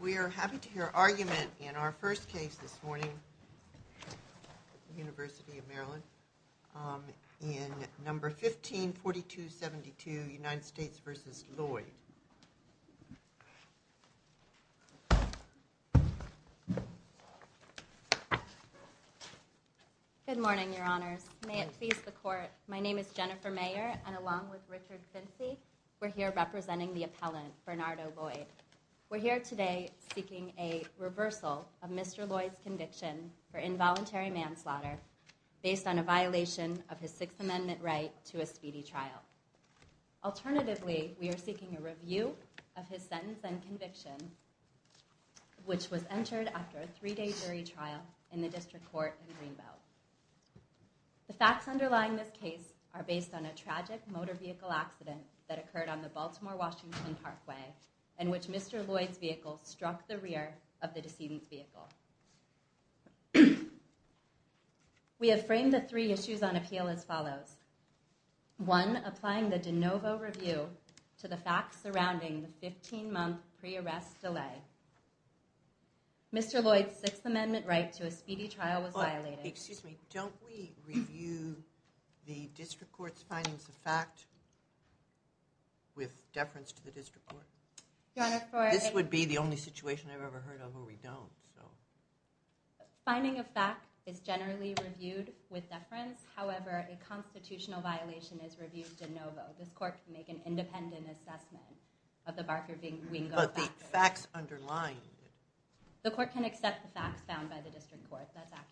We are happy to hear argument in our first case this morning, the University of Maryland, in number 15, 4272, United States v. Lloyd. Good morning, your honors. May it please the court, my name is Jennifer Mayer, and along with Richard Fincy, we're here representing the appellant, Bernardo Lloyd. We're here today seeking a reversal of Mr. Lloyd's conviction for involuntary manslaughter based on a violation of his Sixth Amendment right to a speedy trial. Alternatively, we are seeking a review of his sentence and conviction, which was entered after a three-day jury trial in the District Court in Greenbelt. The facts underlying this case are based on a tragic motor vehicle accident that occurred on the Baltimore-Washington Parkway, in which Mr. Lloyd's vehicle struck the rear of the decedent's vehicle. We have framed the three issues on appeal as follows. One, applying the de novo review to the facts surrounding the 15-month pre-arrest delay. Mr. Lloyd's Sixth Amendment right to a speedy trial was violated. Excuse me, don't we review the District Court's findings of fact with deference to the District Court? This would be the only situation I've ever heard of where we don't, so. The finding of fact is generally reviewed with deference. However, a constitutional violation is reviewed de novo. This court can make an independent assessment of the Barker-Wingo factors. But the facts underlying it. The court can accept the facts found by the District Court, that's accurate.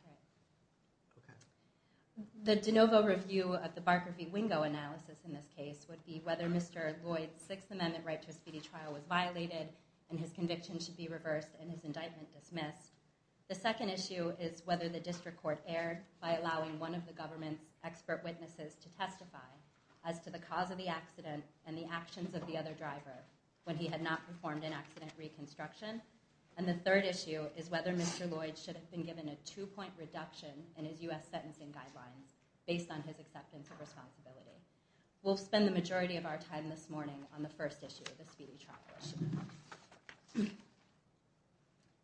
The de novo review of the Barker-Wingo analysis in this case would be whether Mr. Lloyd's Sixth Amendment right to a speedy trial was violated and his conviction should be reversed and his indictment dismissed. The second issue is whether the District Court erred by allowing one of the government's expert witnesses to testify as to the cause of the accident and the actions of the other driver when he had not performed an accident reconstruction. And the third issue is whether Mr. Lloyd should have been given a two-point reduction in his U.S. sentencing guidelines based on his acceptance of responsibility. We'll spend the majority of our time this morning on the first issue of the speedy trial.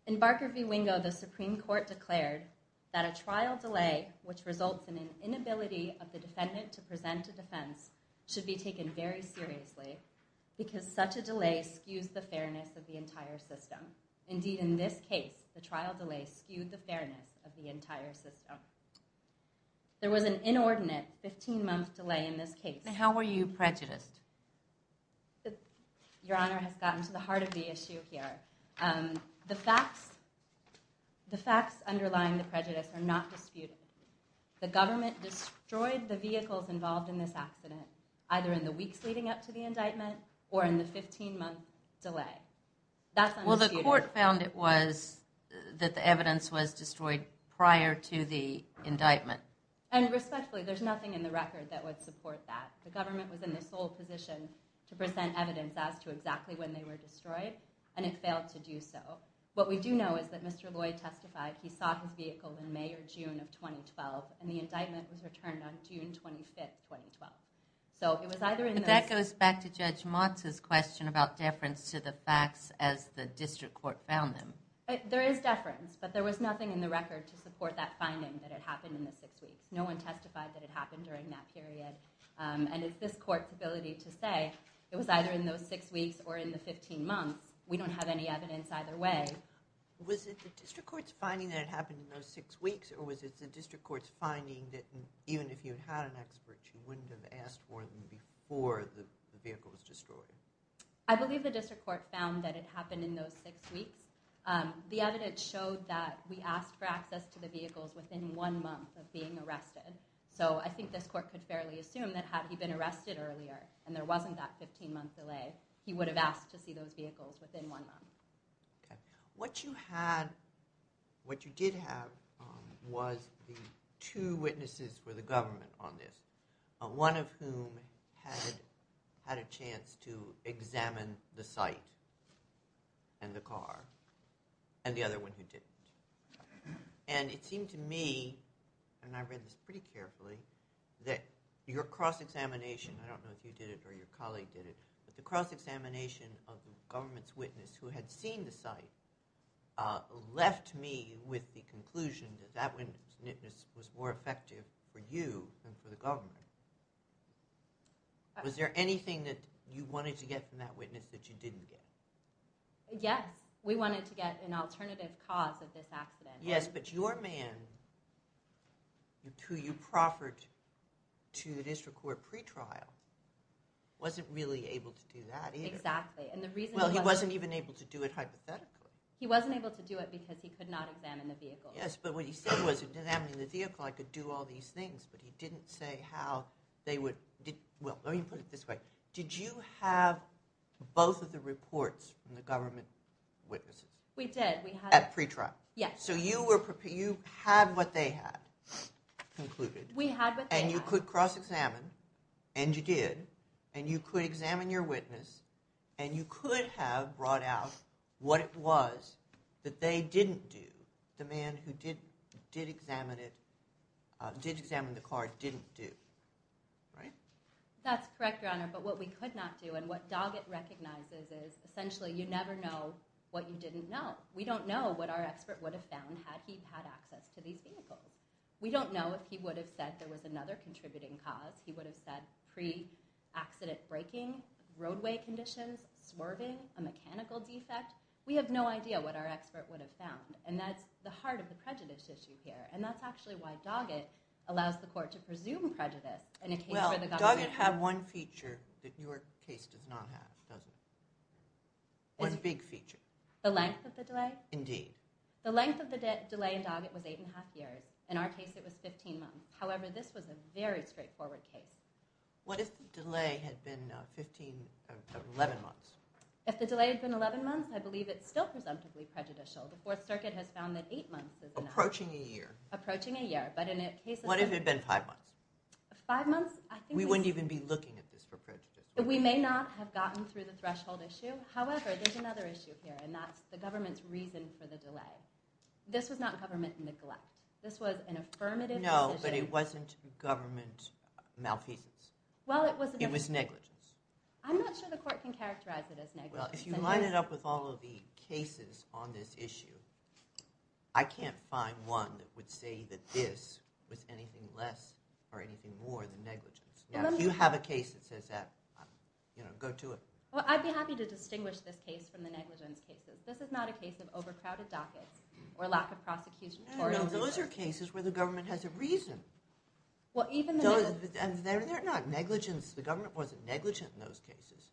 In Barker v. Wingo, the Supreme Court declared that a trial delay which results in an inability of the defendant to present a defense should be taken very seriously because such a delay skews the fairness of the entire system. Indeed, in this case, the trial delay skewed the fairness of the entire system. There was an inordinate 15-month delay in this case. And how were you prejudiced? Your Honor has gotten to the heart of the issue here. The facts underlying the prejudice are not disputed. The government destroyed the vehicles involved in this accident either in the weeks leading up to the indictment or in the 15-month delay. Well, the court found it was that the evidence was destroyed prior to the indictment. And respectfully, there's nothing in the record that would support that. The government was in the sole position to present evidence as to exactly when they were destroyed, and it failed to do so. What we do know is that Mr. Lloyd testified he saw his vehicle in May or June of 2012, and the indictment was returned on June 25, 2012. But that goes back to Judge Motz's question about deference to the facts as the district court found them. There is deference, but there was nothing in the record to support that finding that it happened in the six weeks. No one testified that it happened during that period. And it's this court's ability to say it was either in those six weeks or in the 15 months. We don't have any evidence either way. Was it the district court's finding that it happened in those six weeks, or was it the district court's finding that even if you had an expert, you wouldn't have asked for them before the vehicle was destroyed? I believe the district court found that it happened in those six weeks. The evidence showed that we asked for access to the vehicles within one month of being arrested. So I think this court could fairly assume that had he been arrested earlier and there wasn't that 15-month delay, he would have asked to see those vehicles within one month. What you did have was the two witnesses for the government on this, one of whom had a chance to examine the site and the car, and the other one who didn't. And it seemed to me, and I read this pretty carefully, that your cross-examination, I don't know if you did it or your colleague did it, but the cross-examination of the government's witness who had seen the site left me with the conclusion that that witness was more effective for you than for the government. Was there anything that you wanted to get from that witness that you didn't get? Yes, we wanted to get an alternative cause of this accident. Yes, but your man, who you proffered to the district court pretrial, wasn't really able to do that either. Exactly. Well, he wasn't even able to do it hypothetically. He wasn't able to do it because he could not examine the vehicle. Yes, but what he said was, examining the vehicle, I could do all these things, but he didn't say how they would – well, let me put it this way. Did you have both of the reports from the government witnesses? We did. At pretrial? Yes. So you had what they had concluded. We had what they had. And you could cross-examine, and you did, and you could examine your witness, and you could have brought out what it was that they didn't do, the man who did examine the car didn't do, right? That's correct, Your Honor, but what we could not do, and what Doggett recognizes is essentially you never know what you didn't know. We don't know what our expert would have found had he had access to these vehicles. We don't know if he would have said there was another contributing cause. He would have said pre-accident braking, roadway conditions, swerving, a mechanical defect. We have no idea what our expert would have found, and that's the heart of the prejudice issue here, and that's actually why Doggett allows the court to presume prejudice. Well, Doggett had one feature that your case does not have, does it? One big feature. The length of the delay? Indeed. The length of the delay in Doggett was eight-and-a-half years. In our case, it was 15 months. However, this was a very straightforward case. What if the delay had been 11 months? If the delay had been 11 months, I believe it's still presumptively prejudicial. The Fourth Circuit has found that eight months is enough. Approaching a year. Approaching a year, but in a case of five months. What if it had been five months? We wouldn't even be looking at this for prejudice. We may not have gotten through the threshold issue. However, there's another issue here, and that's the government's reason for the delay. This was not government neglect. This was an affirmative decision. No, but it wasn't government malfeasance. It was negligence. I'm not sure the court can characterize it as negligence. If you line it up with all of the cases on this issue, I can't find one that would say that this was anything less or anything more than negligence. If you have a case that says that, go to it. Well, I'd be happy to distinguish this case from the negligence cases. This is not a case of overcrowded dockets or lack of prosecution. No, those are cases where the government has a reason. And they're not negligence. The government wasn't negligent in those cases.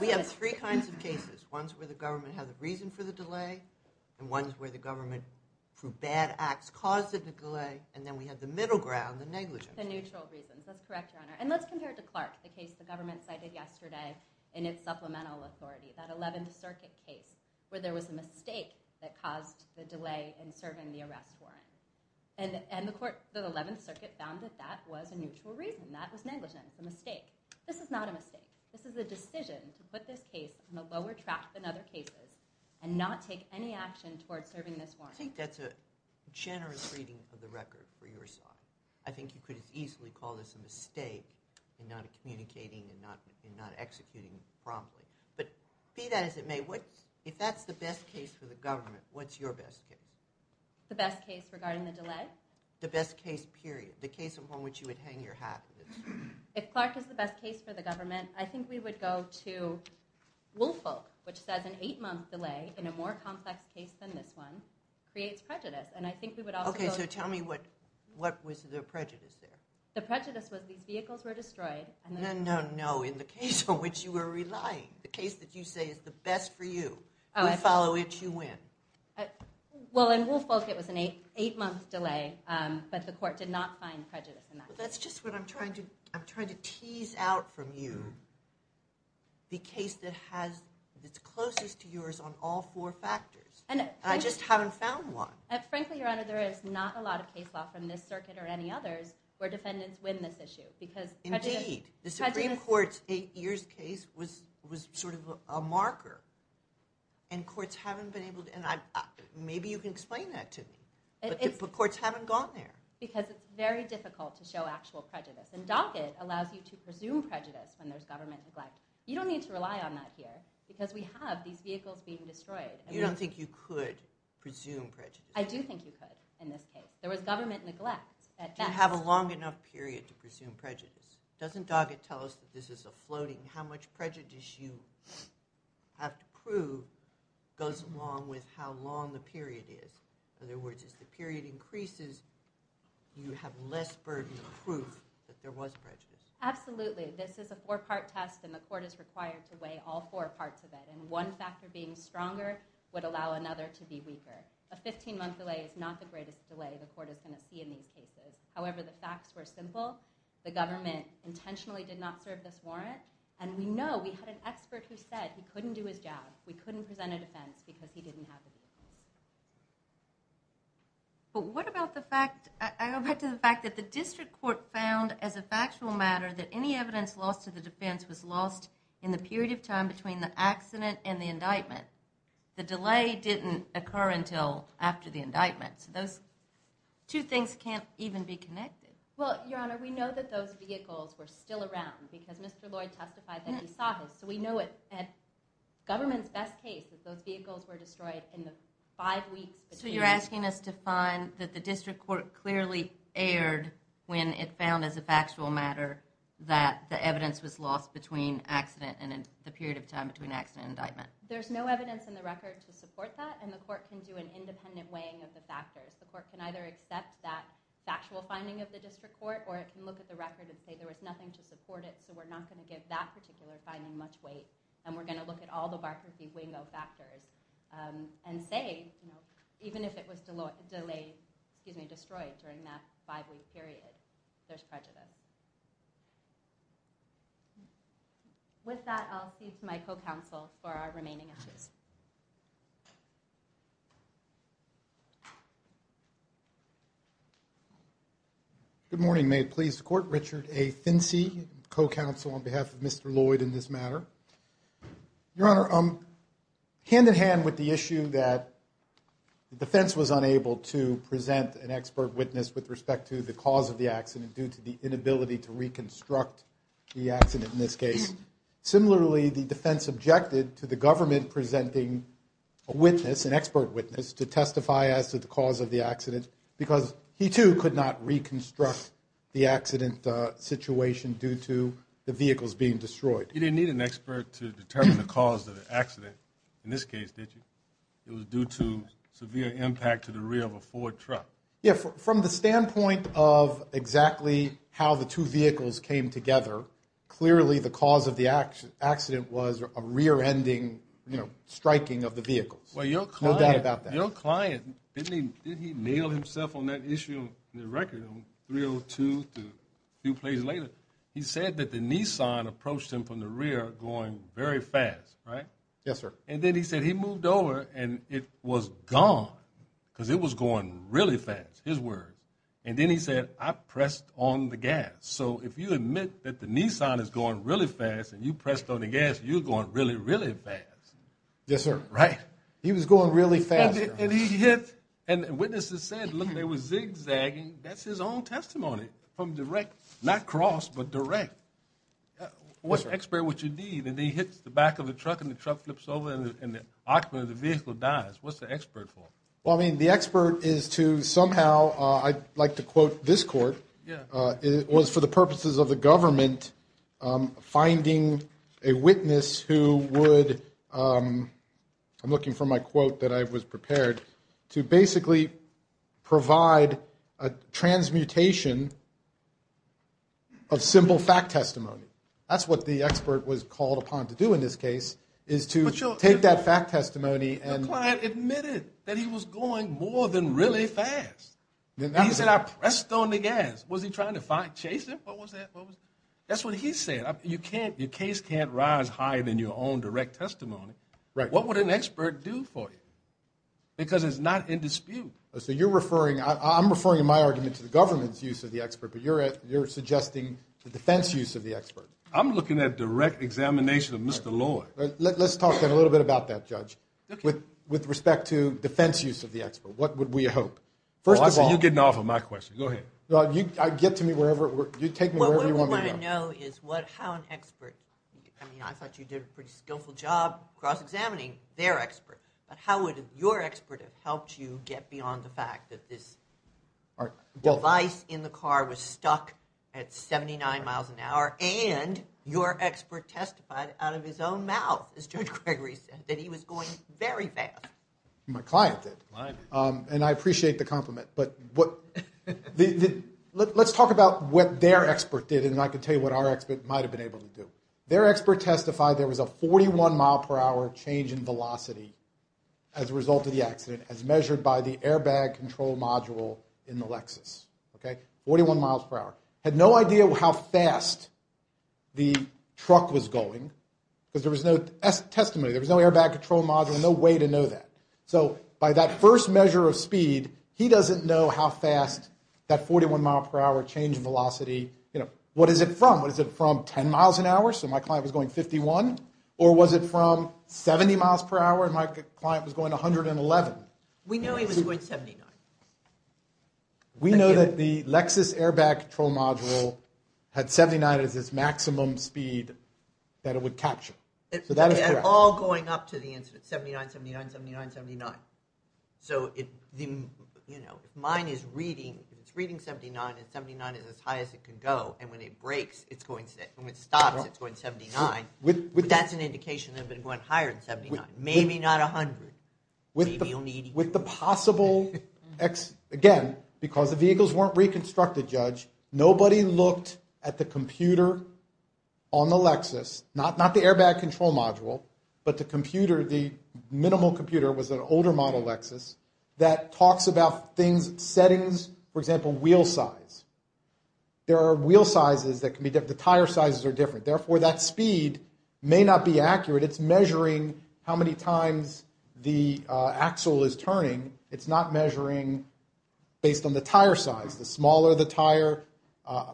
We have three kinds of cases. One's where the government has a reason for the delay, and one's where the government, through bad acts, caused the delay, and then we have the middle ground, the negligence. The neutral reasons. That's correct, Your Honor. And let's compare it to Clark, the case the government cited yesterday in its supplemental authority, that 11th Circuit case, where there was a mistake that caused the delay in serving the arrest warrant. And the 11th Circuit found that that was a neutral reason. That was negligence, a mistake. This is not a mistake. This is a decision to put this case on a lower track than other cases and not take any action toward serving this warrant. I think that's a generous reading of the record for your side. I think you could as easily call this a mistake in not communicating and not executing promptly. But be that as it may, if that's the best case for the government, what's your best case? The best case regarding the delay? The best case, period. The case upon which you would hang your hat. If Clark is the best case for the government, I think we would go to Woolfolk, which says an eight-month delay in a more complex case than this one creates prejudice. Okay, so tell me what was the prejudice there? The prejudice was these vehicles were destroyed. No, no, no. In the case on which you were relying, the case that you say is the best for you, we follow it, you win. Well, in Woolfolk it was an eight-month delay, but the court did not find prejudice in that case. That's just what I'm trying to tease out from you, the case that's closest to yours on all four factors. And I just haven't found one. Frankly, Your Honor, there is not a lot of case law from this circuit or any others where defendants win this issue. Indeed. The Supreme Court's eight-years case was sort of a marker, and courts haven't been able to, and maybe you can explain that to me, but courts haven't gone there. Because it's very difficult to show actual prejudice, and docket allows you to presume prejudice when there's government neglect. You don't need to rely on that here, because we have these vehicles being destroyed. You don't think you could presume prejudice? I do think you could in this case. There was government neglect at best. Do you have a long enough period to presume prejudice? Doesn't docket tell us that this is a floating, how much prejudice you have to prove goes along with how long the period is? In other words, as the period increases, you have less burden of proof that there was prejudice. Absolutely. This is a four-part test, and the court is required to weigh all four parts of it, and one factor being stronger would allow another to be weaker. A 15-month delay is not the greatest delay the court is going to see in these cases. However, the facts were simple. The government intentionally did not serve this warrant, and we know, we had an expert who said he couldn't do his job, we couldn't present a defense because he didn't have a defense. But what about the fact, I go back to the fact that the district court found as a factual matter that any evidence lost to the defense was lost in the period of time between the accident and the indictment. The delay didn't occur until after the indictment, so those two things can't even be connected. Well, Your Honor, we know that those vehicles were still around because Mr. Lloyd testified that he saw his, so we know at government's best case that those vehicles were destroyed in the five weeks between... So you're asking us to find that the district court clearly erred when it found as a factual matter that the evidence was lost between accident and the period of time between accident and indictment. There's no evidence in the record to support that, and the court can do an independent weighing of the factors. The court can either accept that factual finding of the district court, or it can look at the record and say there was nothing to support it, so we're not going to give that particular finding much weight, and we're going to look at all the Barker v. Wingo factors and say even if it was delayed, excuse me, destroyed during that five-week period, there's prejudice. With that, I'll cease my co-counsel for our remaining issues. Good morning. May it please the court, Richard A. Fincy, co-counsel on behalf of Mr. Lloyd in this matter. Your Honor, hand-in-hand with the issue that the defense was unable to present an expert witness with respect to the cause of the accident due to the inability to reconstruct the accident in this case. Similarly, the defense objected to the government presenting a witness, an expert witness, to testify as to the cause of the accident because he too could not reconstruct the accident situation due to the vehicles being destroyed. You didn't need an expert to determine the cause of the accident in this case, did you? It was due to severe impact to the rear of a Ford truck. Yeah, from the standpoint of exactly how the two vehicles came together, clearly the cause of the accident was a rear-ending, you know, striking of the vehicles. Well, your client... No doubt about that. Your client, didn't he nail himself on that issue in the record in 302 to a few places later? He said that the Nissan approached him from the rear going very fast, right? Yes, sir. And then he said he moved over and it was gone because it was going really fast, his words. And then he said, I pressed on the gas. So if you admit that the Nissan is going really fast and you pressed on the gas, you're going really, really fast. Yes, sir. Right? He was going really fast. And he hit... And witnesses said, look, they were zigzagging. That's his own testimony from direct... not cross, but direct. What expert would you need? And he hits the back of the truck and the truck flips over and the occupant of the vehicle dies. What's the expert for? Well, I mean, the expert is to somehow I'd like to quote this court. It was for the purposes of the government finding a witness who would... I'm looking for my quote that I was prepared to basically provide a transmutation of simple fact testimony. That's what the expert was called upon to do in this case is to take that fact testimony and... The client admitted that he was going more than really fast. He said, I pressed on the gas. Was he trying to chase him? What was that? That's what he said. You can't... Your case can't rise higher than your own direct testimony. What would an expert do for you? Because it's not in dispute. So you're referring... I'm referring in my argument to the government's use of the expert, but you're suggesting the defense use of the expert. I'm looking at direct examination of Mr. Lloyd. Let's talk a little bit about that, Judge. With respect to defense use of the expert, what would we hope? First of all... You're getting off on my question. Go ahead. Get to me wherever... You take me wherever you want me to go. What we want to know is how an expert... I mean, I thought you did a pretty skillful job cross-examining their expert. But how would your expert have helped you get beyond the fact that this device in the car was stuck at 79 miles an hour and your expert testified out of his own mouth, as Judge Gregory said, that he was going very fast? My client did. And I appreciate the compliment. But what... Let's talk about what their expert did and I can tell you what our expert might have been able to do. Their expert testified there was a 41-mile-per-hour change in velocity as a result of the accident as measured by the airbag control module in the Lexus, okay? 41 miles per hour. Had no idea how fast the truck was going because there was no testimony. There was no airbag control module. No way to know that. So by that first measure of speed, he doesn't know how fast that 41-mile-per-hour change in velocity... You know, what is it from? What is it from? 10 miles an hour? So my client was going 51? Or was it from 70 miles per hour and my client was going 111? We knew he was going 79. We know that the Lexus airbag control module had 79 as its maximum speed that it would capture. So that is correct. All going up to the incident. 79, 79, 79, 79. So if mine is reading, if it's reading 79 and 79 is as high as it can go and when it breaks, it's going... When it stops, it's going 79. That's an indication that it went higher than 79. Maybe not 100. Maybe only 80. With the possible... Again, because the vehicles weren't reconstructed, Judge, nobody looked at the computer on the Lexus, not the airbag control module, but the computer, the minimal computer was an older model Lexus that talks about things, settings. For example, wheel size. There are wheel sizes that can be... The tire sizes are different. Therefore, that speed may not be accurate. It's measuring how many times the axle is turning. It's not measuring based on the tire size. The smaller the tire... I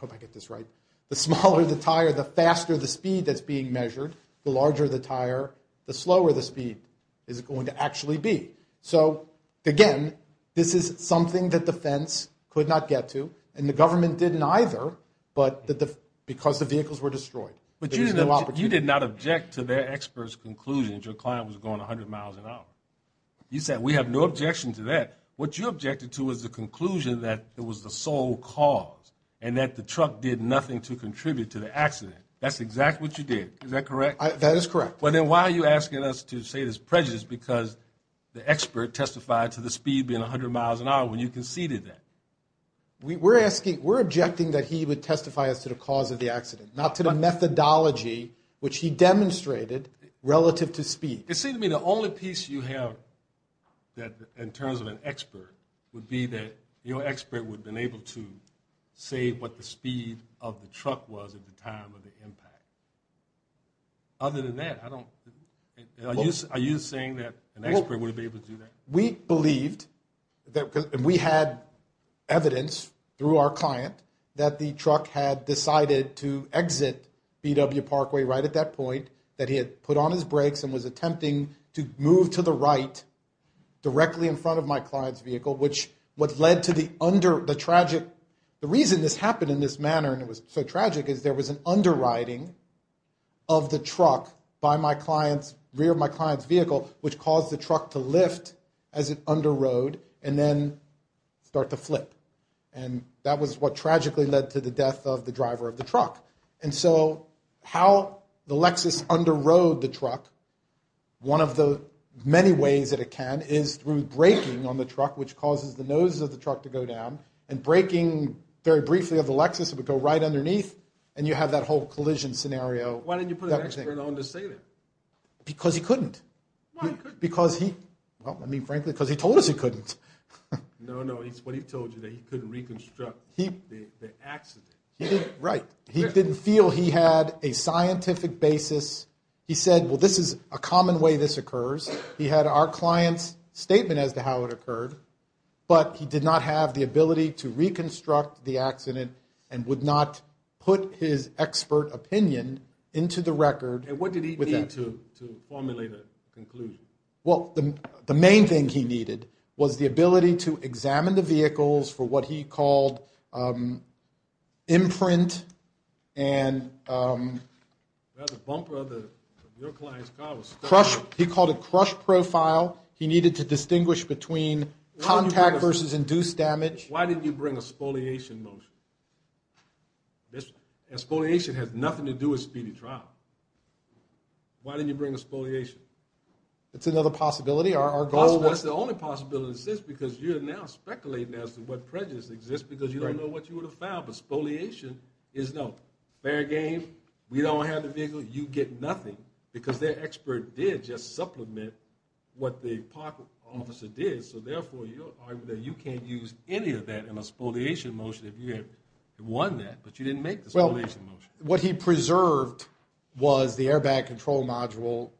hope I get this right. The smaller the tire, the faster the speed that's being measured. The larger the tire, the slower the speed is going to actually be. So again, this is something that the fence could not get to and the government didn't either because the vehicles were destroyed. But you did not object to their expert's conclusion that your client was going 100 miles an hour. You said, we have no objection to that. What you objected to was the conclusion that it was the sole cause and that the truck did nothing to contribute to the accident. That's exactly what you did. Is that correct? That is correct. Then why are you asking us to say this prejudice because the expert testified to the speed being 100 miles an hour when you conceded that? We're objecting that he would testify as to the cause of the accident, not to the methodology which he demonstrated relative to speed. It seems to me the only piece you have in terms of an expert would be that your expert would have been able to say what the speed of the truck was at the time of the impact. Other than that, I don't, are you saying that an expert would have been able to do that? We believed, and we had evidence through our client that the truck had decided to exit B.W. Parkway right at that point, that he had put on his brakes and was attempting to move to the right directly in front of my client's vehicle, which what led to the under, the tragic, the reason this happened in this manner and it was so tragic is there was an under-riding of the truck by my client's, rear of my client's vehicle, which caused the truck to lift as it under-rode and then start to flip. And that was what tragically led to the death of the driver of the truck. And so how the Lexus under-rode the truck, one of the many ways that it can is through braking on the truck, which causes the nose of the truck to go down, and braking very briefly of the Lexus, it would go right underneath, and you have that whole collision scenario. Why didn't you put an expert on to save him? Because he couldn't. Why couldn't he? Because he, well, I mean, frankly, because he told us he couldn't. No, no, it's what he told you, that he couldn't reconstruct the accident. Right. He didn't feel he had a scientific basis. He said, well, this is a common way this occurs. He had our client's statement as to how it occurred, but he did not have the ability to reconstruct the accident and would not put his expert opinion into the record. And what did he need to formulate a conclusion? Well, the main thing he needed was the ability to examine the vehicles for what he called imprint and... He called it crush profile. He needed to distinguish between contact versus induced damage. Why didn't you bring a spoliation motion? Spoliation has nothing to do with speedy trial. Why didn't you bring a spoliation? That's another possibility. Our goal was... That's the only possibility, because you're now speculating as to what prejudice exists because you don't know what you would have found. But spoliation is no fair game. We don't have the vehicle. You get nothing, because their expert did just supplement what the park officer did, so therefore you can't use any of that in a spoliation motion if you had won that, but you didn't make the spoliation motion. Well, what he preserved was the airbag control module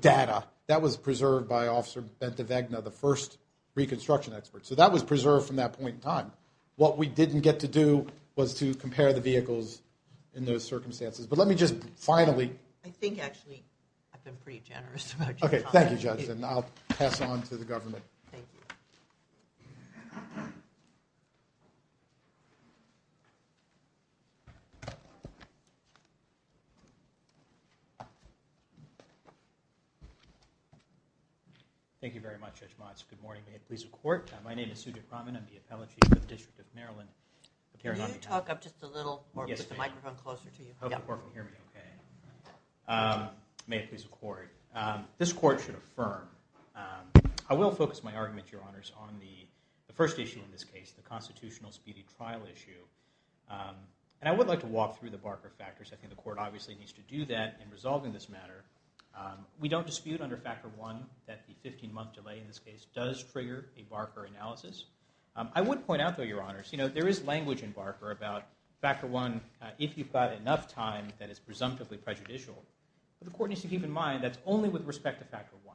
data. That was preserved by Officer Bente Wegner, the first reconstruction expert. So that was preserved from that point in time. What we didn't get to do was to compare the vehicles in those circumstances. But let me just finally... I think, actually, I've been pretty generous about your time. Okay, thank you, Judge, and I'll pass on to the government. Thank you. Thank you very much, Judge Motz. Good morning, may it please the Court. My name is Sujit Raman. I'm the appellate chief of the District of Maryland. Can you talk up just a little more with the microphone closer to you? I hope the Court will hear me okay. May it please the Court. This Court should affirm. I will focus my argument, Your Honors, on the first issue in this case, the constitutional speedy trial issue. And I would like to walk through the Barker factors. I think the Court obviously needs to do that in resolving this matter. We don't dispute under Factor I that the 15-month delay in this case does trigger a Barker analysis. I would point out, though, Your Honors, there is language in Barker about Factor I, if you've got enough time that is presumptively prejudicial. But the Court needs to keep in mind that's only with respect to Factor I.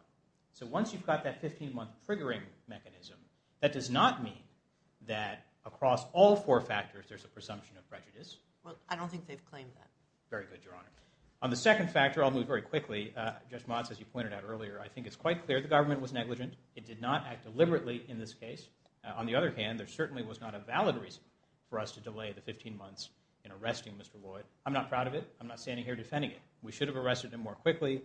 So once you've got that 15-month triggering mechanism, that does not mean that across all four factors there's a presumption of prejudice. Well, I don't think they've claimed that. Very good, Your Honor. On the second factor, I'll move very quickly. Judge Motz, as you pointed out earlier, I think it's quite clear the government was negligent. It did not act deliberately in this case. On the other hand, there certainly was not a valid reason for us to delay the 15 months in arresting Mr. Lloyd. I'm not proud of it. I'm not standing here defending it. We should have arrested him more quickly.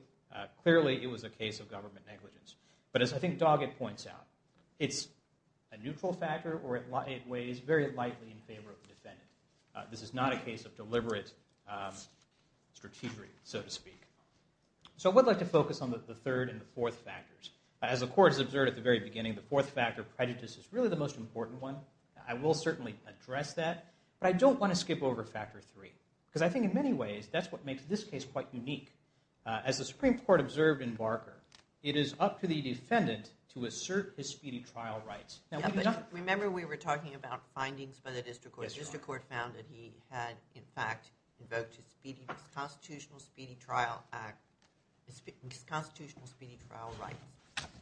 Clearly, it was a case of government negligence. But as I think Doggett points out, it's a neutral factor, or it weighs very lightly in favor of the defendant. This is not a case of deliberate strategery, so to speak. So I would like to focus on the third and the fourth factors. As the Court has observed at the very beginning, the fourth factor, prejudice, is really the most important one. I will certainly address that, but I don't want to skip over factor three. Because I think in many ways, that's what makes this case quite unique. As the Supreme Court observed in Barker, it is up to the defendant to assert his speedy trial rights. Remember we were talking about findings by the district court. The district court found that he had, in fact, invoked his Constitutional Speedy Trial Act, his Constitutional Speedy Trial Rights.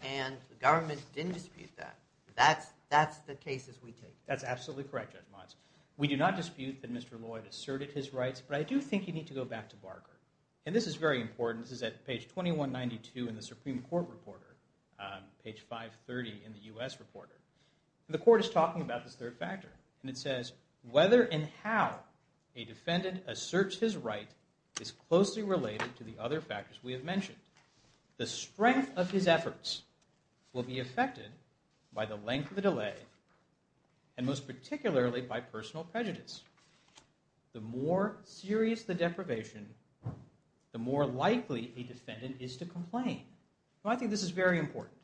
And the government didn't dispute that. That's the cases we take. That's absolutely correct, Judge Motz. We do not dispute that Mr. Lloyd asserted his rights, but I do think you need to go back to Barker. And this is very important. This is at page 2192 in the Supreme Court Reporter, page 530 in the U.S. Reporter. The Court is talking about this third factor. And it says, whether and how a defendant asserts his right is closely related to the other factors we have mentioned. The strength of his efforts will be affected by the length of the delay, and most particularly by personal prejudice. The more serious the deprivation, the more likely a defendant is to complain. So I think this is very important,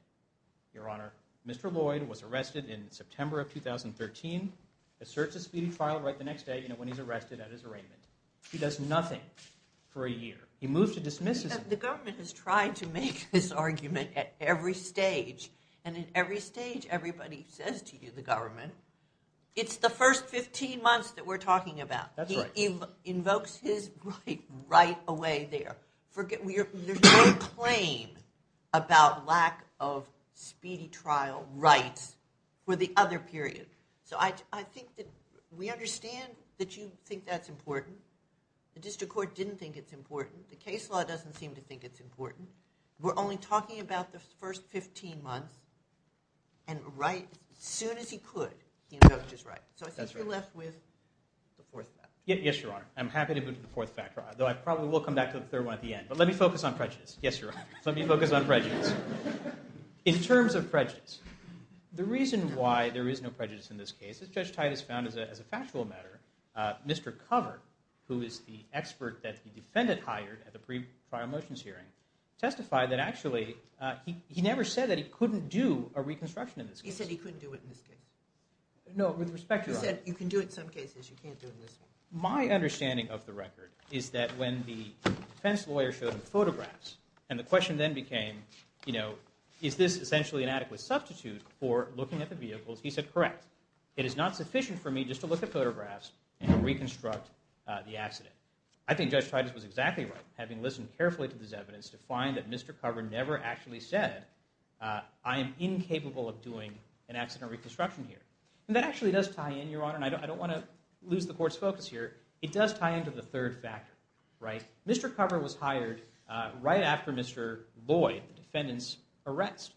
Your Honor. Mr. Lloyd was arrested in September of 2013, asserts his speedy trial right the next day, you know, when he's arrested at his arraignment. He does nothing for a year. He moves to dismiss his... The government has tried to make this argument at every stage. And at every stage, everybody says to you, the government, it's the first 15 months that we're talking about. That's right. He invokes his right right away there. There's no claim about lack of speedy trial rights for the other period. So I think that we understand that you think that's important. The district court didn't think it's important. The case law doesn't seem to think it's important. We're only talking about the first 15 months, and right as soon as he could, he invokes his right. So I think you're left with the fourth factor. Yes, Your Honor. I'm happy to move to the fourth factor, though I probably will come back to the third one at the end. But let me focus on prejudice. Yes, Your Honor. Let me focus on prejudice. In terms of prejudice, the reason why there is no prejudice in this case is Judge Titus found as a factual matter, Mr. Covert, who is the expert that the defendant hired at the pre-trial motions hearing, testified that actually he never said that he couldn't do a reconstruction in this case. He said he couldn't do it in this case. No, with respect, Your Honor. He said you can do it in some cases. You can't do it in this one. My understanding of the record is that when the defense lawyer showed him photographs and the question then became, you know, is this essentially an adequate substitute for looking at the vehicles? He said, correct. It is not sufficient for me just to look at photographs and reconstruct the accident. I think Judge Titus was exactly right, having listened carefully to this evidence, to find that Mr. Covert never actually said, I am incapable of doing an accident reconstruction here. And that actually does tie in, Your Honor, and I don't want to lose the court's focus here. It does tie into the third factor, right? Mr. Covert was hired right after Mr. Lloyd, the defendant's arrest.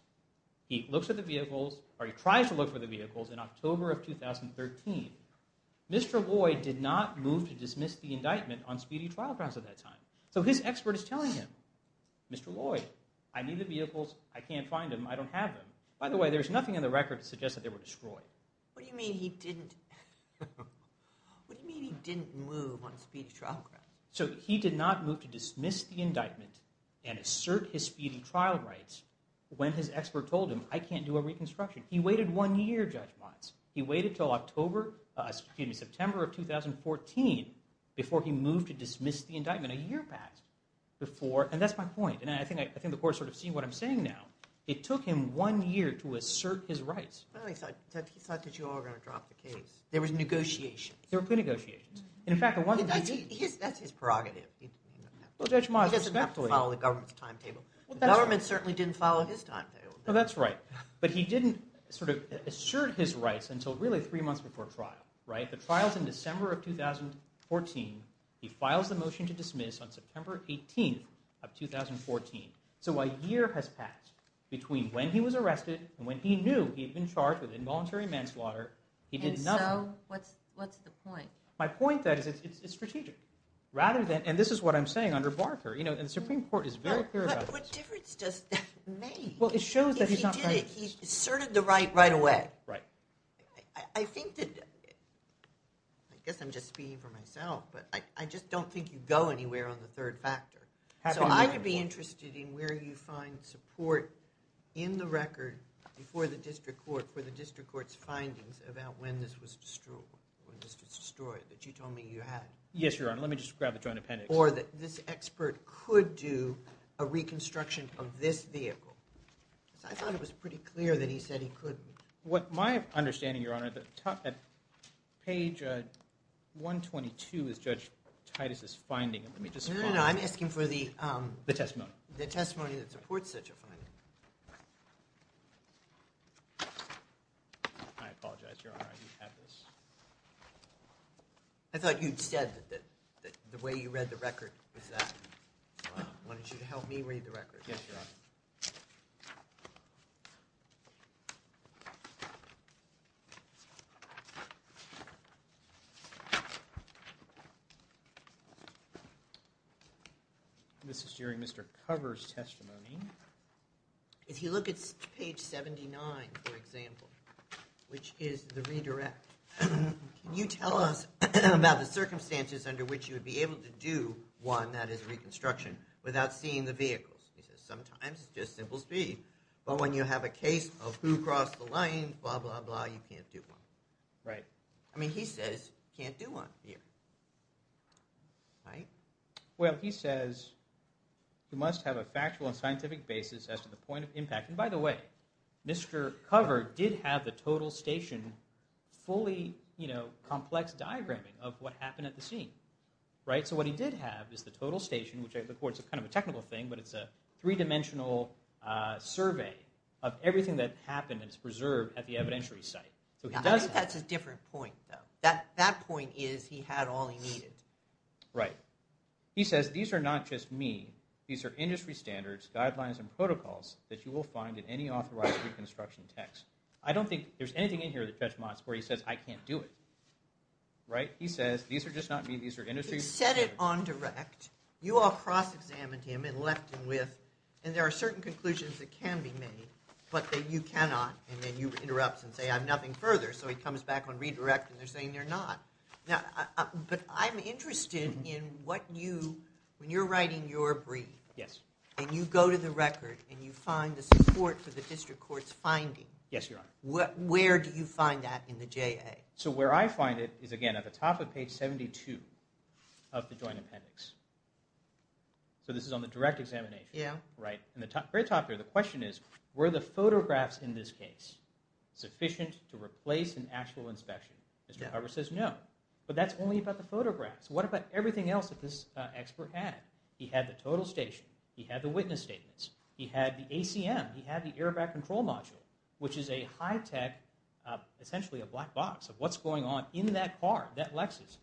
He looks at the vehicles, or he tries to look for the vehicles, in October of 2013. Mr. Lloyd did not move to dismiss the indictment on speedy trial grounds at that time. So his expert is telling him, Mr. Lloyd, I need the vehicles. I can't find them. I don't have them. By the way, there's nothing in the record to suggest that they were destroyed. What do you mean he didn't move on a speedy trial ground? So he did not move to dismiss the indictment and assert his speedy trial rights when his expert told him, I can't do a reconstruction. He waited one year, Judge Watts. He waited until September of 2014 before he moved to dismiss the indictment, a year passed before. And that's my point, and I think the court's sort of seeing what I'm saying now. It took him one year to assert his rights. He thought that you all were going to drop the case. There was negotiations. There were pre-negotiations. That's his prerogative. He doesn't have to follow the government's timetable. The government certainly didn't follow his timetable. No, that's right. But he didn't sort of assert his rights until really three months before trial. The trial's in December of 2014. He files the motion to dismiss on September 18th of 2014. So a year has passed between when he was arrested and when he knew he had been charged with involuntary manslaughter. He did nothing. And so what's the point? My point is that it's strategic. And this is what I'm saying under Barker. The Supreme Court is very clear about this. But what difference does that make? Well, it shows that he's not right. If he did it, he asserted the right right away. Right. I think that... I guess I'm just speaking for myself, but I just don't think you go anywhere on the third factor. So I would be interested in where you find support in the record for the district court, for the district court's findings about when this was destroyed, that you told me you had. Yes, Your Honor. Let me just grab the joint appendix. Or that this expert could do a reconstruction of this vehicle. I thought it was pretty clear that he said he couldn't. What my understanding, Your Honor, at page 122 is Judge Titus' finding. Let me just... No, no, no. I'm asking for the... The testimony. The testimony that supports such a finding. I apologize, Your Honor. I didn't have this. I thought you'd said that the way you read the record was that. I wanted you to help me read the record. Yes, Your Honor. This is during Mr. Cover's testimony. If you look at page 79, for example, which is the redirect, can you tell us about the circumstances under which you would be able to do one, that is reconstruction, without seeing the vehicles? He says sometimes it's just simple speed. But when you have a case of who crossed the line, blah, blah, blah, you can't do one. Right. I mean, he says you can't do one here. Right? Well, he says you must have a factual and scientific basis as to the point of impact. And by the way, Mr. Cover did have the total station fully complex diagramming of what happened at the scene. Right? So what he did have is the total station, which of course is kind of a technical thing, but it's a three-dimensional survey of everything that happened and is preserved at the evidentiary site. I think that's a different point, though. That point is he had all he needed. Right. He says these are not just me. These are industry standards, guidelines, and protocols that you will find in any authorized reconstruction text. I don't think there's anything in here that judge Motz, where he says I can't do it. Right? He says these are just not me. These are industry standards. He said it on direct. You all cross-examined him and left him with, and there are certain conclusions that can be made, but that you cannot. And then you interrupt and say I'm nothing further. So he comes back on redirect and they're saying they're not. But I'm interested in what you, when you're writing your brief, and you go to the record and you find the support for the district court's finding. Yes, Your Honor. Where do you find that in the JA? So where I find it is, again, at the top of page 72 of the joint appendix. So this is on the direct examination. Yeah. Right. At the very top there, the question is, were the photographs in this case sufficient to replace an actual inspection? Mr. Harber says no. But that's only about the photographs. What about everything else that this expert had? He had the total station. He had the witness statements. He had the ACM. He had the airbag control module, which is a high-tech, essentially a black box, of what's going on in that car, that Lexus,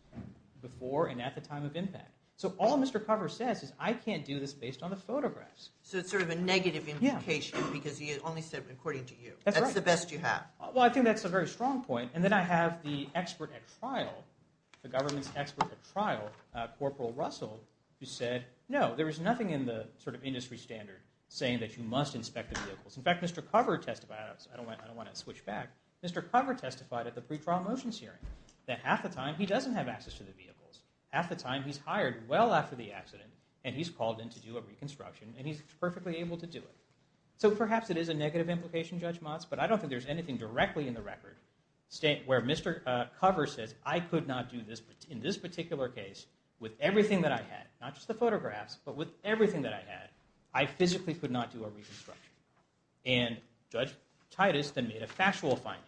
before and at the time of impact. So all Mr. Harber says is I can't do this based on the photographs. So it's sort of a negative implication because he only said according to you. That's right. That's the best you have. Well, I think that's a very strong point. And then I have the expert at trial, the government's expert at trial, Corporal Russell, who said no, there is nothing in the sort of industry standard saying that you must inspect the vehicles. In fact, Mr. Cover testified, I don't want to switch back, Mr. Cover testified at the pretrial motions hearing that half the time he doesn't have access to the vehicles. Half the time he's hired well after the accident and he's called in to do a reconstruction and he's perfectly able to do it. So perhaps it is a negative implication, Judge Motz, but I don't think there's anything directly in the record where Mr. Cover says I could not do this in this particular case with everything that I had, not just the photographs, but with everything that I had, I physically could not do a reconstruction. And Judge Titus then made a factual finding.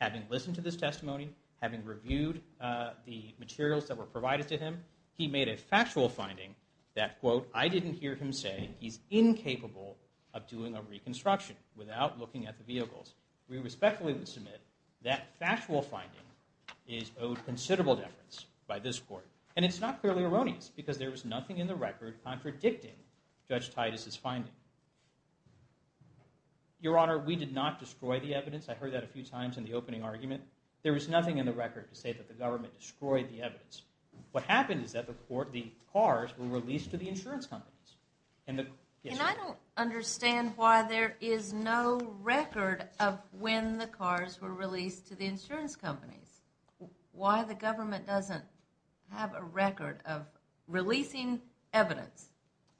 Having listened to this testimony, having reviewed the materials that were provided to him, he made a factual finding that, quote, I didn't hear him say he's incapable of doing a reconstruction without looking at the vehicles. We respectfully would submit that factual finding is owed considerable deference by this court. And it's not clearly erroneous because there was nothing in the record contradicting Judge Titus' finding. Your Honor, we did not destroy the evidence. I heard that a few times in the opening argument. There was nothing in the record to say that the government destroyed the evidence. What happened is that the cars were released to the insurance companies. And I don't understand why there is no record of when the cars were released to the insurance companies. Why the government doesn't have a record of releasing evidence?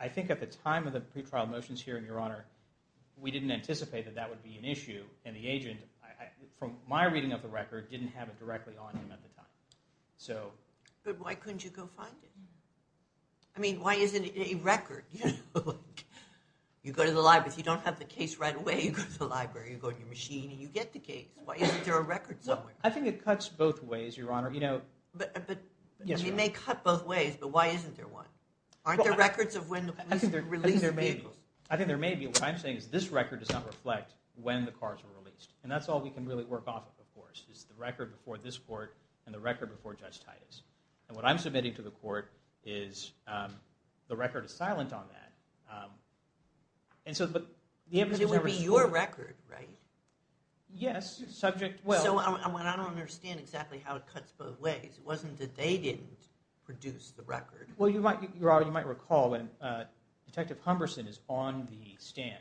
I think at the time of the pretrial motions here, Your Honor, we didn't anticipate that that would be an issue. And the agent, from my reading of the record, didn't have it directly on him at the time. But why couldn't you go find it? I mean, why isn't it in a record? You go to the library. If you don't have the case right away, you go to the library. You go to your machine and you get the case. Why isn't there a record somewhere? I think it cuts both ways, Your Honor. It may cut both ways, but why isn't there one? Aren't there records of when the police released their vehicles? I think there may be. What I'm saying is this record does not reflect when the cars were released. And that's all we can really work off of, of course, is the record before this court and the record before Judge Titus. And what I'm submitting to the court is the record is silent on that. But it would be your record, right? Yes. So I don't understand exactly how it cuts both ways. It wasn't that they didn't produce the record. Well, Your Honor, you might recall, when Detective Humberson is on the stand,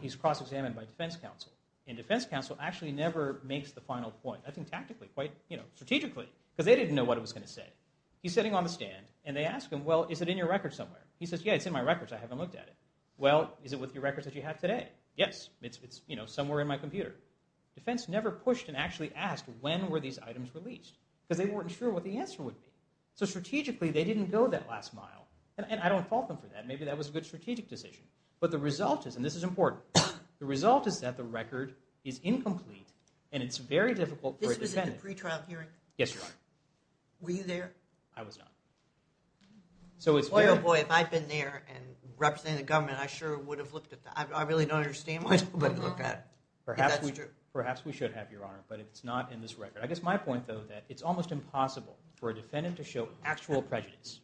he's cross-examined by defense counsel. And defense counsel actually never makes the final point, I think tactically, quite strategically, because they didn't know what it was going to say. He's sitting on the stand and they ask him, well, is it in your record somewhere? He says, yeah, it's in my records. I haven't looked at it. Well, is it with your records that you have today? Yes, it's somewhere in my computer. Defense never pushed and actually asked, when were these items released? Because they weren't sure what the answer would be. So strategically, they didn't go that last mile. And I don't fault them for that. Maybe that was a good strategic decision. But the result is, and this is important, the result is that the record is incomplete and it's very difficult for a defendant... This was at the pre-trial hearing? Yes, Your Honor. Were you there? I was not. Boy, oh, boy, if I'd been there and represented the government, I sure would have looked at that. I really don't understand why nobody looked at it. Perhaps we should have, Your Honor, but it's not in this record. I guess my point, though, is that it's almost impossible for a defendant to show actual prejudice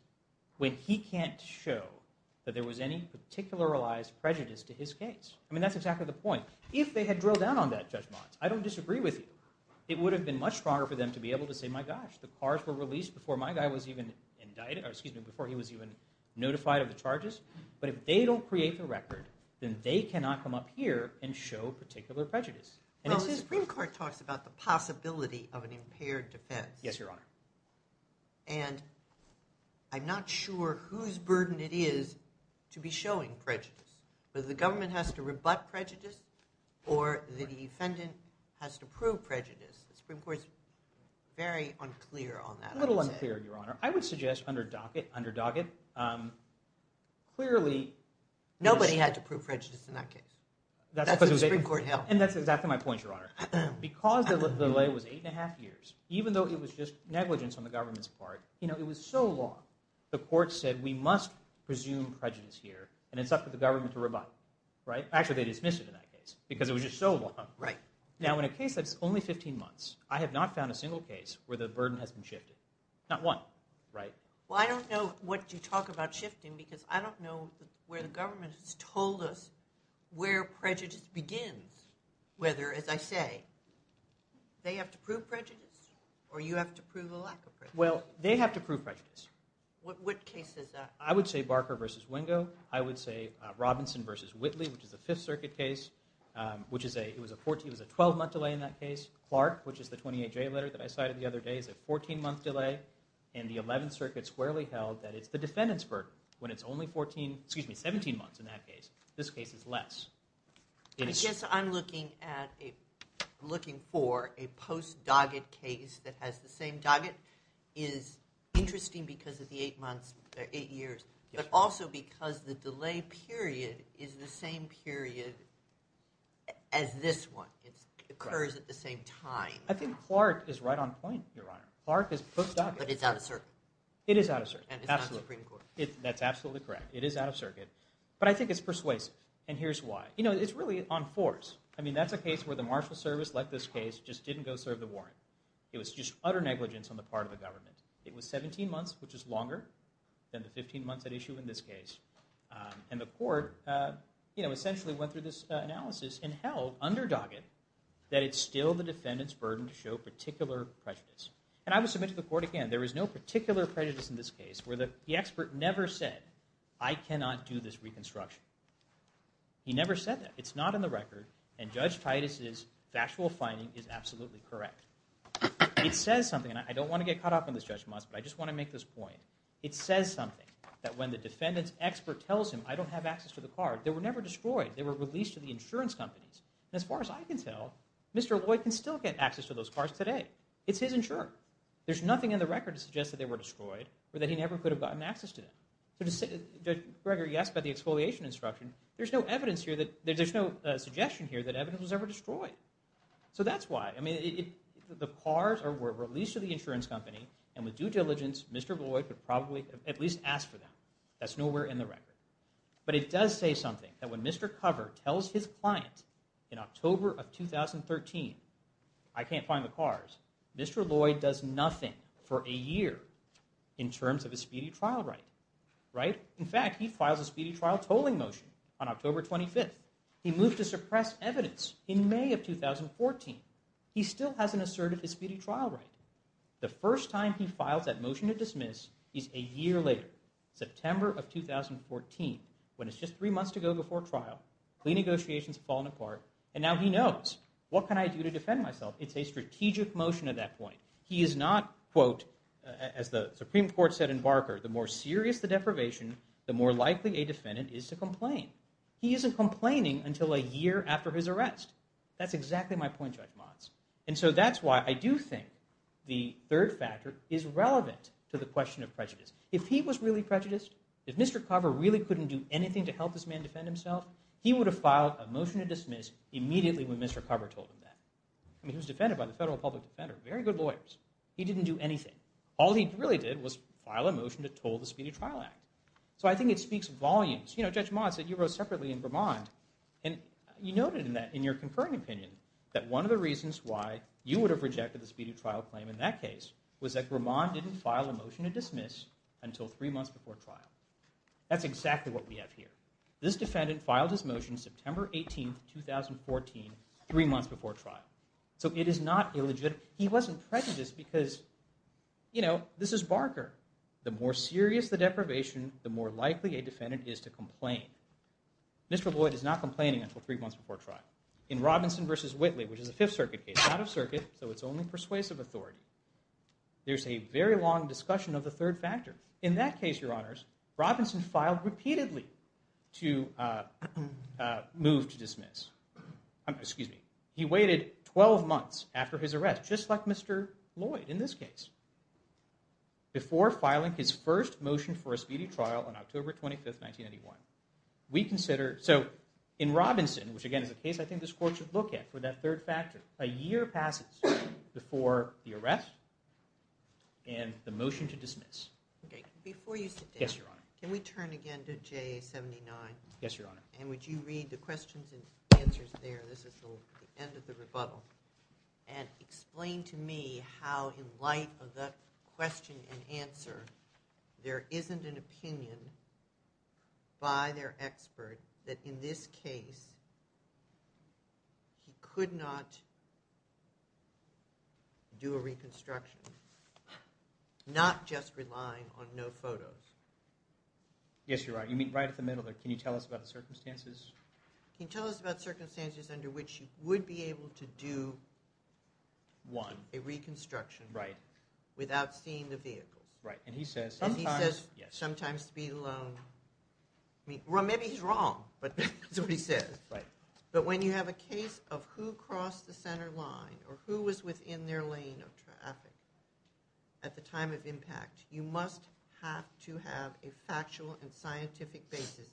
when he can't show that there was any particularized prejudice to his case. I mean, that's exactly the point. If they had drilled down on that, Judge Mott, I don't disagree with you. It would have been much stronger for them to be able to say, my gosh, the cars were released before my guy was even notified of the charges. But if they don't create the record, then they cannot come up here and show particular prejudice. Well, the Supreme Court talks about the possibility of an impaired defense. Yes, Your Honor. And I'm not sure whose burden it is to be showing prejudice, whether the government has to rebut prejudice or the defendant has to prove prejudice. The Supreme Court is very unclear on that, I would say. A little unclear, Your Honor. I would suggest under docket, clearly. Nobody had to prove prejudice in that case. That's what the Supreme Court held. And that's exactly my point, Your Honor. Because the delay was eight and a half years, even though it was just negligence on the government's part, it was so long. The court said, we must presume prejudice here, and it's up to the government to rebut. Actually, they dismissed it in that case, because it was just so long. Now, in a case that's only 15 months, I have not found a single case where the burden has been shifted. Not one, right? Well, I don't know what you talk about shifting, because I don't know where the government has told us where prejudice begins. Whether, as I say, they have to prove prejudice or you have to prove a lack of prejudice. Well, they have to prove prejudice. What case is that? I would say Barker versus Wingo. I would say Robinson versus Whitley, which is a Fifth Circuit case. It was a 12-month delay in that case. Clark, which is the 28-J letter that I cited the other day, is a 14-month delay. And the 11th Circuit squarely held that it's the defendant's burden. When it's only 17 months in that case, this case is less. I guess I'm looking for a post-Doggett case that has the same Doggett is interesting because of the eight years, but also because the delay period is the same period as this one. It occurs at the same time. I think Clark is right on point, Your Honor. Clark is post-Doggett. But it's out of circuit. It is out of circuit. And it's not Supreme Court. That's absolutely correct. It is out of circuit. But I think it's persuasive, and here's why. You know, it's really on force. I mean, that's a case where the marshal service, like this case, just didn't go serve the warrant. It was just utter negligence on the part of the government. It was 17 months, which is longer than the 15 months at issue in this case. And the court essentially went through this analysis and held under Doggett that it's still the defendant's burden to show particular prejudice. And I would submit to the court again, there is no particular prejudice in this case where the expert never said, I cannot do this reconstruction. He never said that. It's not in the record. And Judge Titus's factual finding is absolutely correct. It says something, and I don't want to get caught up in this, Judge Moss, but I just want to make this point. It says something that when the defendant's expert tells him, I don't have access to the card, they were never destroyed. They were released to the insurance companies. And as far as I can tell, Mr. Lloyd can still get access to those cars today. It's his insurer. There's nothing in the record to suggest that they were destroyed or that he never could have gotten access to them. Judge Greger, yes, but the exfoliation instruction, there's no evidence here, there's no suggestion here that evidence was ever destroyed. So that's why. I mean, the cars were released to the insurance company, and with due diligence, Mr. Lloyd would probably at least ask for them. That's nowhere in the record. But it does say something, that when Mr. Cover tells his client in October of 2013, I can't find the cars, Mr. Lloyd does nothing for a year in terms of his speedy trial right. In fact, he files a speedy trial tolling motion on October 25th. He moved to suppress evidence in May of 2014. He still hasn't asserted his speedy trial right. The first time he files that motion to dismiss is a year later, September of 2014, when it's just three months to go before trial. Clean negotiations have fallen apart, and now he knows. What can I do to defend myself? It's a strategic motion at that point. He is not, quote, as the Supreme Court said in Barker, the more serious the deprivation, the more likely a defendant is to complain. He isn't complaining until a year after his arrest. That's exactly my point, Judge Motz. And so that's why I do think the third factor is relevant to the question of prejudice. If he was really prejudiced, if Mr. Cover really couldn't do anything to help this man defend himself, he would have filed a motion to dismiss immediately when Mr. Cover told him that. I mean, he was defended by the federal public defender, very good lawyers. He didn't do anything. All he really did was file a motion to toll the Speedy Trial Act. So I think it speaks volumes. You know, Judge Motz, you wrote separately in Vermont, and you noted in your concurring opinion that one of the reasons why you would have rejected the speedy trial claim in that case was that Vermont didn't file a motion to dismiss until three months before trial. That's exactly what we have here. This defendant filed his motion September 18, 2014, three months before trial. So it is not illegitimate. He wasn't prejudiced because, you know, this is Barker. The more serious the deprivation, the more likely a defendant is to complain. Mr. Lloyd is not complaining until three months before trial. In Robinson v. Whitley, which is a Fifth Circuit case, out of circuit, so it's only persuasive authority, there's a very long discussion of the third factor. In that case, Your Honors, Robinson filed repeatedly to move to dismiss. Excuse me. He waited 12 months after his arrest, just like Mr. Lloyd in this case, before filing his first motion for a speedy trial on October 25, 1991. We consider... So in Robinson, which again is a case I think this court should look at for that third factor, a year passes before the arrest and the motion to dismiss. Okay, before you sit down... Yes, Your Honor. Can we turn again to JA-79? Yes, Your Honor. And would you read the questions and answers there? This is the end of the rebuttal. And explain to me how in light of that question and answer, there isn't an opinion by their expert that in this case he could not do a reconstruction, not just relying on no photos. Yes, Your Honor. You mean right at the middle there. Can you tell us about the circumstances? Can you tell us about circumstances under which he would be able to do... One. ...a reconstruction... Right. ...without seeing the vehicle? Right, and he says sometimes... And he says sometimes to be alone. Well, maybe he's wrong, but that's what he says. Right. But when you have a case of who crossed the center line or who was within their lane of traffic at the time of impact, you must have to have a factual and scientific basis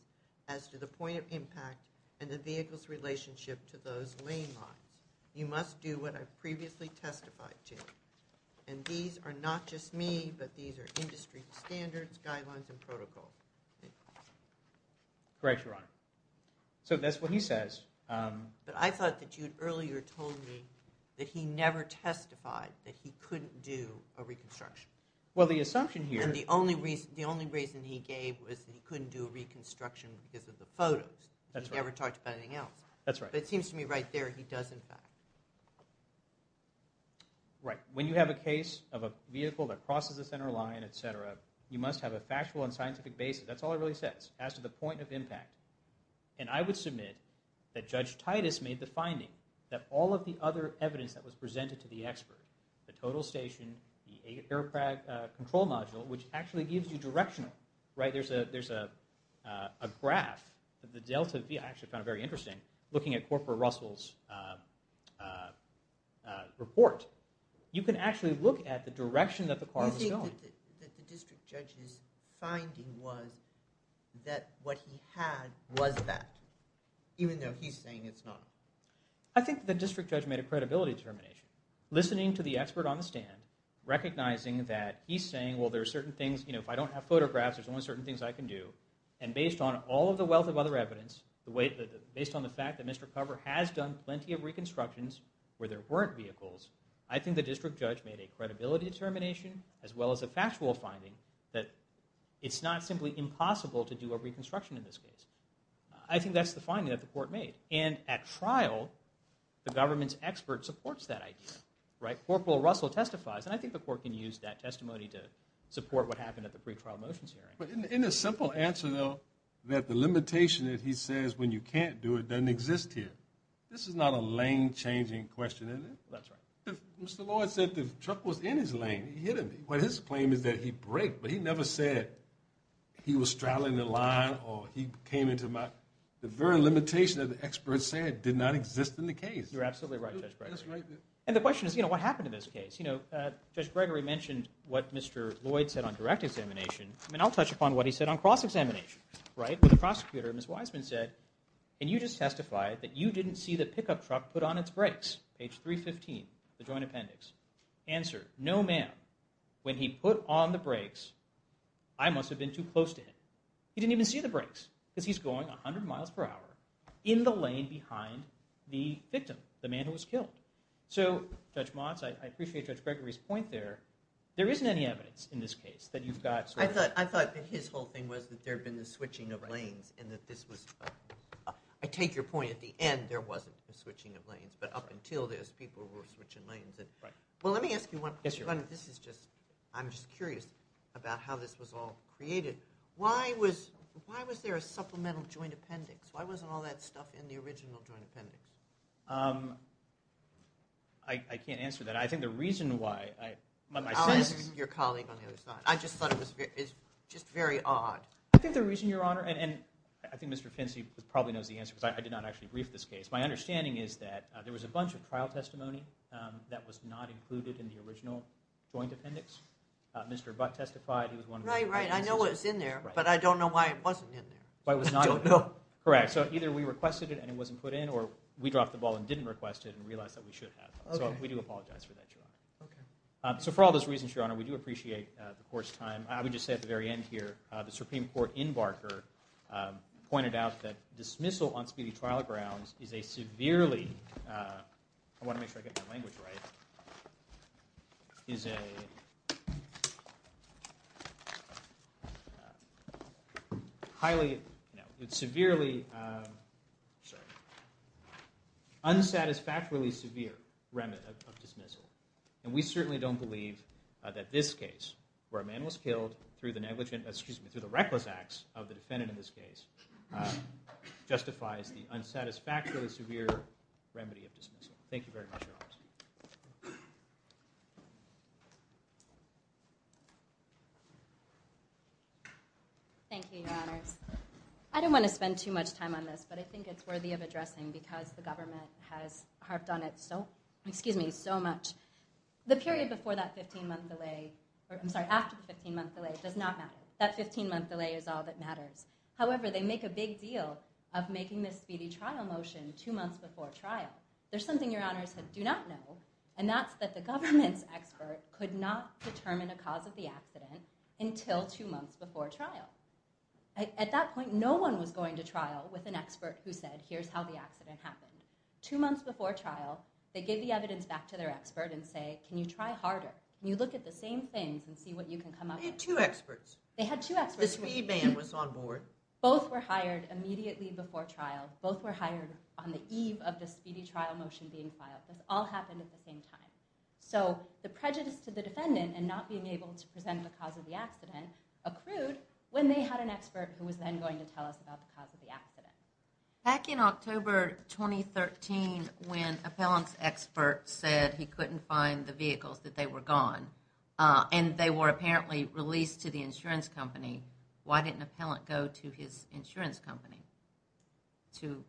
as to the point of impact and the vehicle's relationship to those lane lines. You must do what I've previously testified to. And these are not just me, but these are industry standards, guidelines, and protocol. Correct, Your Honor. So that's what he says. But I thought that you had earlier told me that he never testified that he couldn't do a reconstruction. Well, the assumption here... And the only reason he gave was that he couldn't do a reconstruction because of the photos. That's right. He never talked about anything else. That's right. But it seems to me right there he does, in fact. Right. When you have a case of a vehicle that crosses the center line, etc., you must have a factual and scientific basis. That's all it really says, as to the point of impact. And I would submit that Judge Titus made the finding that all of the other evidence that was presented to the expert, the total station, the aircraft control module, which actually gives you directional, right? There's a graph of the Delta V. I actually found it very interesting in looking at Corporal Russell's report. You can actually look at the direction that the car was going. You think that the district judge's finding was that what he had was that, even though he's saying it's not? I think the district judge made a credibility determination. Listening to the expert on the stand, recognizing that he's saying, well, if I don't have photographs, there's only certain things I can do. And based on all of the wealth of other evidence, based on the fact that Mr. Cover has done plenty of reconstructions where there weren't vehicles, I think the district judge made a credibility determination as well as a factual finding that it's not simply impossible to do a reconstruction in this case. I think that's the finding that the court made. And at trial, the government's expert supports that idea. Right? Corporal Russell testifies, and I think the court can use that testimony to support what happened at the pretrial motions hearing. But in a simple answer, though, that the limitation that he says when you can't do it doesn't exist here. This is not a lane-changing question, is it? That's right. Mr. Lloyd said the truck was in his lane. He hit him. His claim is that he braked, but he never said he was straddling the line or he came into my... The very limitation that the expert said did not exist in the case. You're absolutely right, Judge Gregory. And the question is, you know, what happened in this case? You know, Judge Gregory mentioned what Mr. Lloyd said on direct examination. I mean, I'll touch upon what he said on cross-examination. Right? What the prosecutor, Ms. Wiseman, said, and you just testified that you didn't see the pickup truck put on its brakes. Page 315, the joint appendix. Answer, no ma'am. When he put on the brakes, I must have been too close to him. He didn't even see the brakes, because he's going 100 miles per hour in the lane behind the victim, the man who was killed. So, Judge Motz, I appreciate Judge Gregory's point there. There isn't any evidence in this case that you've got... I thought that his whole thing was that there had been the switching of lanes and that this was... I take your point at the end, there wasn't the switching of lanes, but up until this, people were switching lanes. Well, let me ask you one question. This is just... I'm just curious about how this was all created. Why was there a supplemental joint appendix? Why wasn't all that stuff in the original joint appendix? I can't answer that. I think the reason why... I'll ask your colleague on the other side. I just thought it was just very odd. I think the reason, Your Honor, and I think Mr. Fincy probably knows the answer, because I did not actually brief this case. My understanding is that there was a bunch of trial testimony that was not included in the original joint appendix. Mr. Abbott testified, he was one of the... Right, right, I know what was in there, but I don't know why it wasn't in there. Why it was not in there? I don't know. Correct. So either we requested it and it wasn't put in, or we dropped the ball and didn't request it and realized that we should have. Okay. So we do apologize for that, Your Honor. Okay. So for all those reasons, Your Honor, we do appreciate the court's time. I would just say at the very end here, the Supreme Court, in Barker, pointed out that dismissal on speedy trial grounds is a severely... I want to make sure I get my language right. Is a... highly... No, it's severely... Sorry. Unsatisfactorily severe remit of dismissal. And we certainly don't believe that this case, where a man was killed through the negligent... Excuse me, through the reckless acts of the defendant in this case, justifies the unsatisfactorily severe remedy of dismissal. Thank you very much, Your Honors. Thank you, Your Honors. I don't want to spend too much time on this, but I think it's worthy of addressing because the government has harped on it so... The period before that 15-month delay... I'm sorry, after the 15-month delay does not matter. That 15-month delay is all that matters. However, they make a big deal of making this speedy trial motion two months before trial. There's something Your Honors do not know, and that's that the government's expert could not determine a cause of the accident until two months before trial. At that point, no one was going to trial with an expert who said, here's how the accident happened. Two months before trial, they gave the evidence back to their expert and say, can you try harder? And you look at the same things and see what you can come up with. They had two experts. They had two experts. The speed man was on board. Both were hired immediately before trial. Both were hired on the eve of the speedy trial motion being filed. This all happened at the same time. So the prejudice to the defendant in not being able to present the cause of the accident accrued when they had an expert who was then going to tell us about the cause of the accident. Back in October 2013, when Appellant's expert said he couldn't find the vehicles, that they were gone, and they were apparently released to the insurance company, why didn't Appellant go to his insurance company to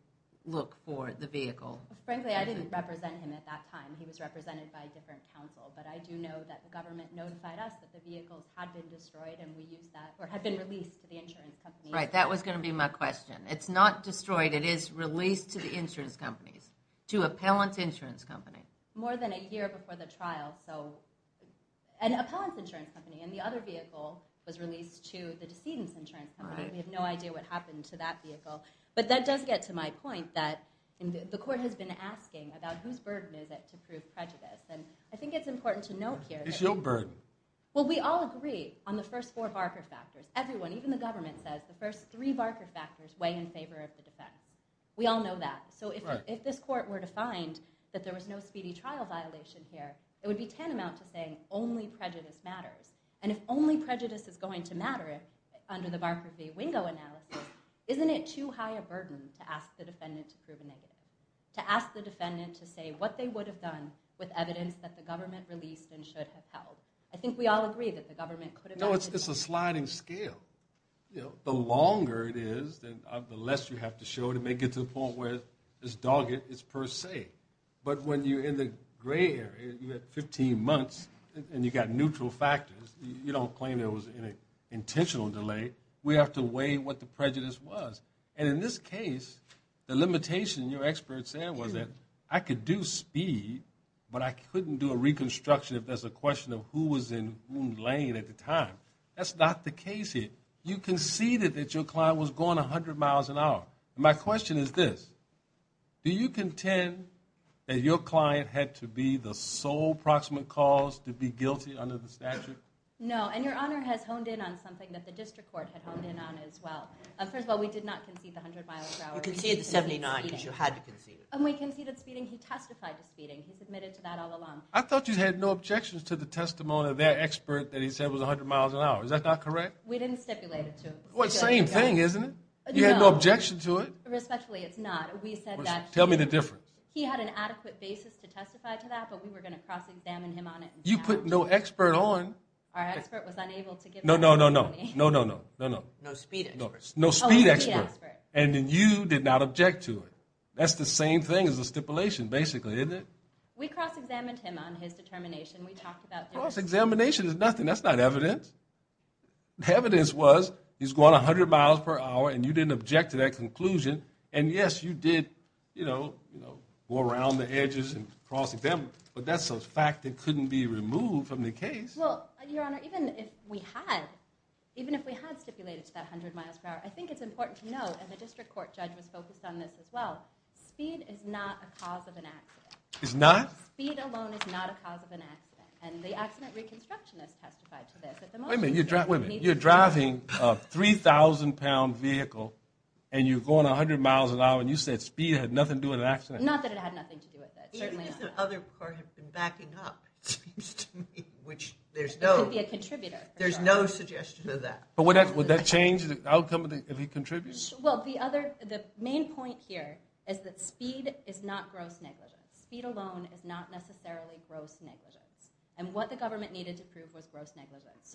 look for the vehicle? Frankly, I didn't represent him at that time. He was represented by a different counsel, but I do know that the government notified us that the vehicles had been destroyed and we used that, or had been released to the insurance company. Right, that was going to be my question. It's not destroyed. It is released to the insurance companies, to Appellant's insurance company. More than a year before the trial, so an Appellant's insurance company and the other vehicle was released to the decedent's insurance company. We have no idea what happened to that vehicle. But that does get to my point that the court has been asking about whose burden is it to prove prejudice. And I think it's important to note here... It's your burden. Well, we all agree on the first four Barker factors. Everyone, even the government, says the first three Barker factors weigh in favor of the defense. We all know that. So if this court were to find that there was no speedy trial violation here, it would be tantamount to saying only prejudice matters. And if only prejudice is going to matter under the Barker v. Wingo analysis, isn't it too high a burden to ask the defendant to prove a negative? To ask the defendant to say what they would have done with evidence that the government released and should have held. I think we all agree that the government could have... No, it's a sliding scale. The longer it is, the less you have to show to make it to the point where it's dogged, it's per se. But when you're in the gray area and you have 15 months and you've got neutral factors, you don't claim there was an intentional delay. We have to weigh what the prejudice was. And in this case, the limitation your expert said was that I could do speed, but I couldn't do a reconstruction if there's a question of who was in whom lane at the time. That's not the case here. You conceded that your client was going 100 miles an hour. My question is this. Do you contend that your client had to be the sole proximate cause to be guilty under the statute? No, and Your Honor has honed in on something that the district court had honed in on as well. First of all, we did not concede the 100 miles per hour. You conceded the 79 because you had to concede it. And we conceded speeding. He testified to speeding. He's admitted to that all along. I thought you had no objections to the testimony of that expert that he said was 100 miles an hour. Is that not correct? We didn't stipulate it to him. Well, it's the same thing, isn't it? You had no objection to it? Respectfully, it's not. We said that he... Tell me the difference. He had an adequate basis to testify to that, but we were going to cross-examine him on it. You put no expert on... Our expert was unable to give... No, no, no, no. No, no, no. No speed experts. No speed experts. And then you did not object to it. That's the same thing as a stipulation, basically, isn't it? We cross-examined him on his determination. We talked about... Cross-examination is nothing that's not evidence. The evidence was he's going 100 miles per hour and you didn't object to that conclusion. And yes, you did, you know, go around the edges and cross-examine him, but that's a fact that couldn't be removed from the case. Well, Your Honor, even if we had, even if we had stipulated to that 100 miles per hour, I think it's important to know, and the district court judge was focused on this as well, speed is not a cause of an accident. It's not? Speed alone is not a cause of an accident. And the accident reconstructionist testified to this. Wait a minute. You're driving a 3,000-pound vehicle and you're going 100 miles an hour and you said speed had nothing to do with an accident? Not that it had nothing to do with it. Certainly not. The other court have been backing up, it seems to me, which there's no... It could be a contributor. There's no suggestion of that. But would that change the outcome if he contributes? Well, the other, the main point here is that speed is not gross negligence. Speed alone is not necessarily gross negligence. And what the government needed to prove was gross negligence.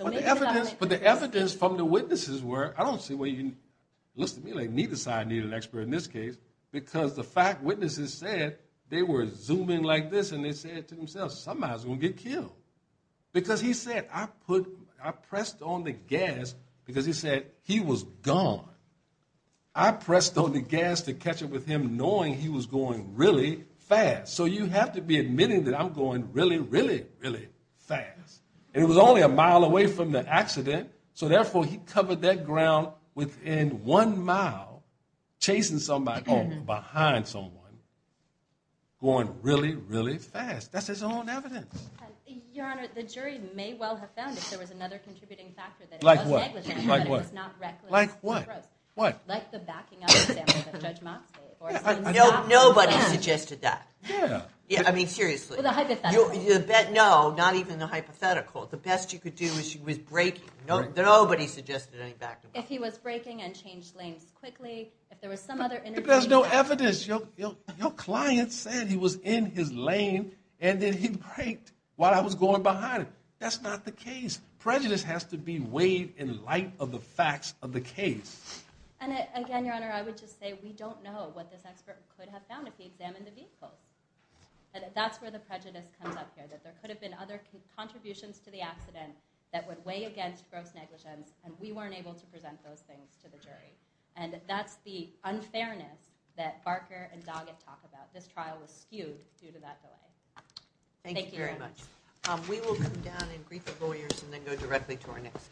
But the evidence from the witnesses were... I don't see why you... It looks to me like neither side needed an expert in this case because the fact witnesses said they were zooming like this and they said to themselves, somebody's going to get killed. Because he said, I pressed on the gas because he said he was gone. I pressed on the gas to catch up with him knowing he was going really fast. So you have to be admitting that I'm going really, really, really fast. And it was only a mile away from the accident. So therefore, he covered that ground within one mile chasing somebody behind someone going really, really fast. That's his own evidence. Your Honor, the jury may well have found if there was another contributing factor that it was negligence. Like what? Like what? Like the backing up example that Judge Moxley... Nobody suggested that. Yeah. I mean, seriously. Well, the hypothetical. No, not even the hypothetical. The best you could do is he was braking. Nobody suggested any backing up. If he was braking and changed lanes quickly, if there was some other... But there's no evidence. Your client said he was in his lane and then he braked while I was going behind him. That's not the case. Prejudice has to be weighed in light of the facts of the case. And again, Your Honor, I would just say we don't know what this expert could have found if he examined the vehicles. That's where the prejudice comes up here. That there could have been other contributions to the accident that would weigh against gross negligence and we weren't able to present those things to the jury. And that's the unfairness that Barker and Doggett talk about. This trial was skewed due to that delay. Thank you, Your Honor. Thank you very much. We will come down and brief the lawyers and then go directly to our next case.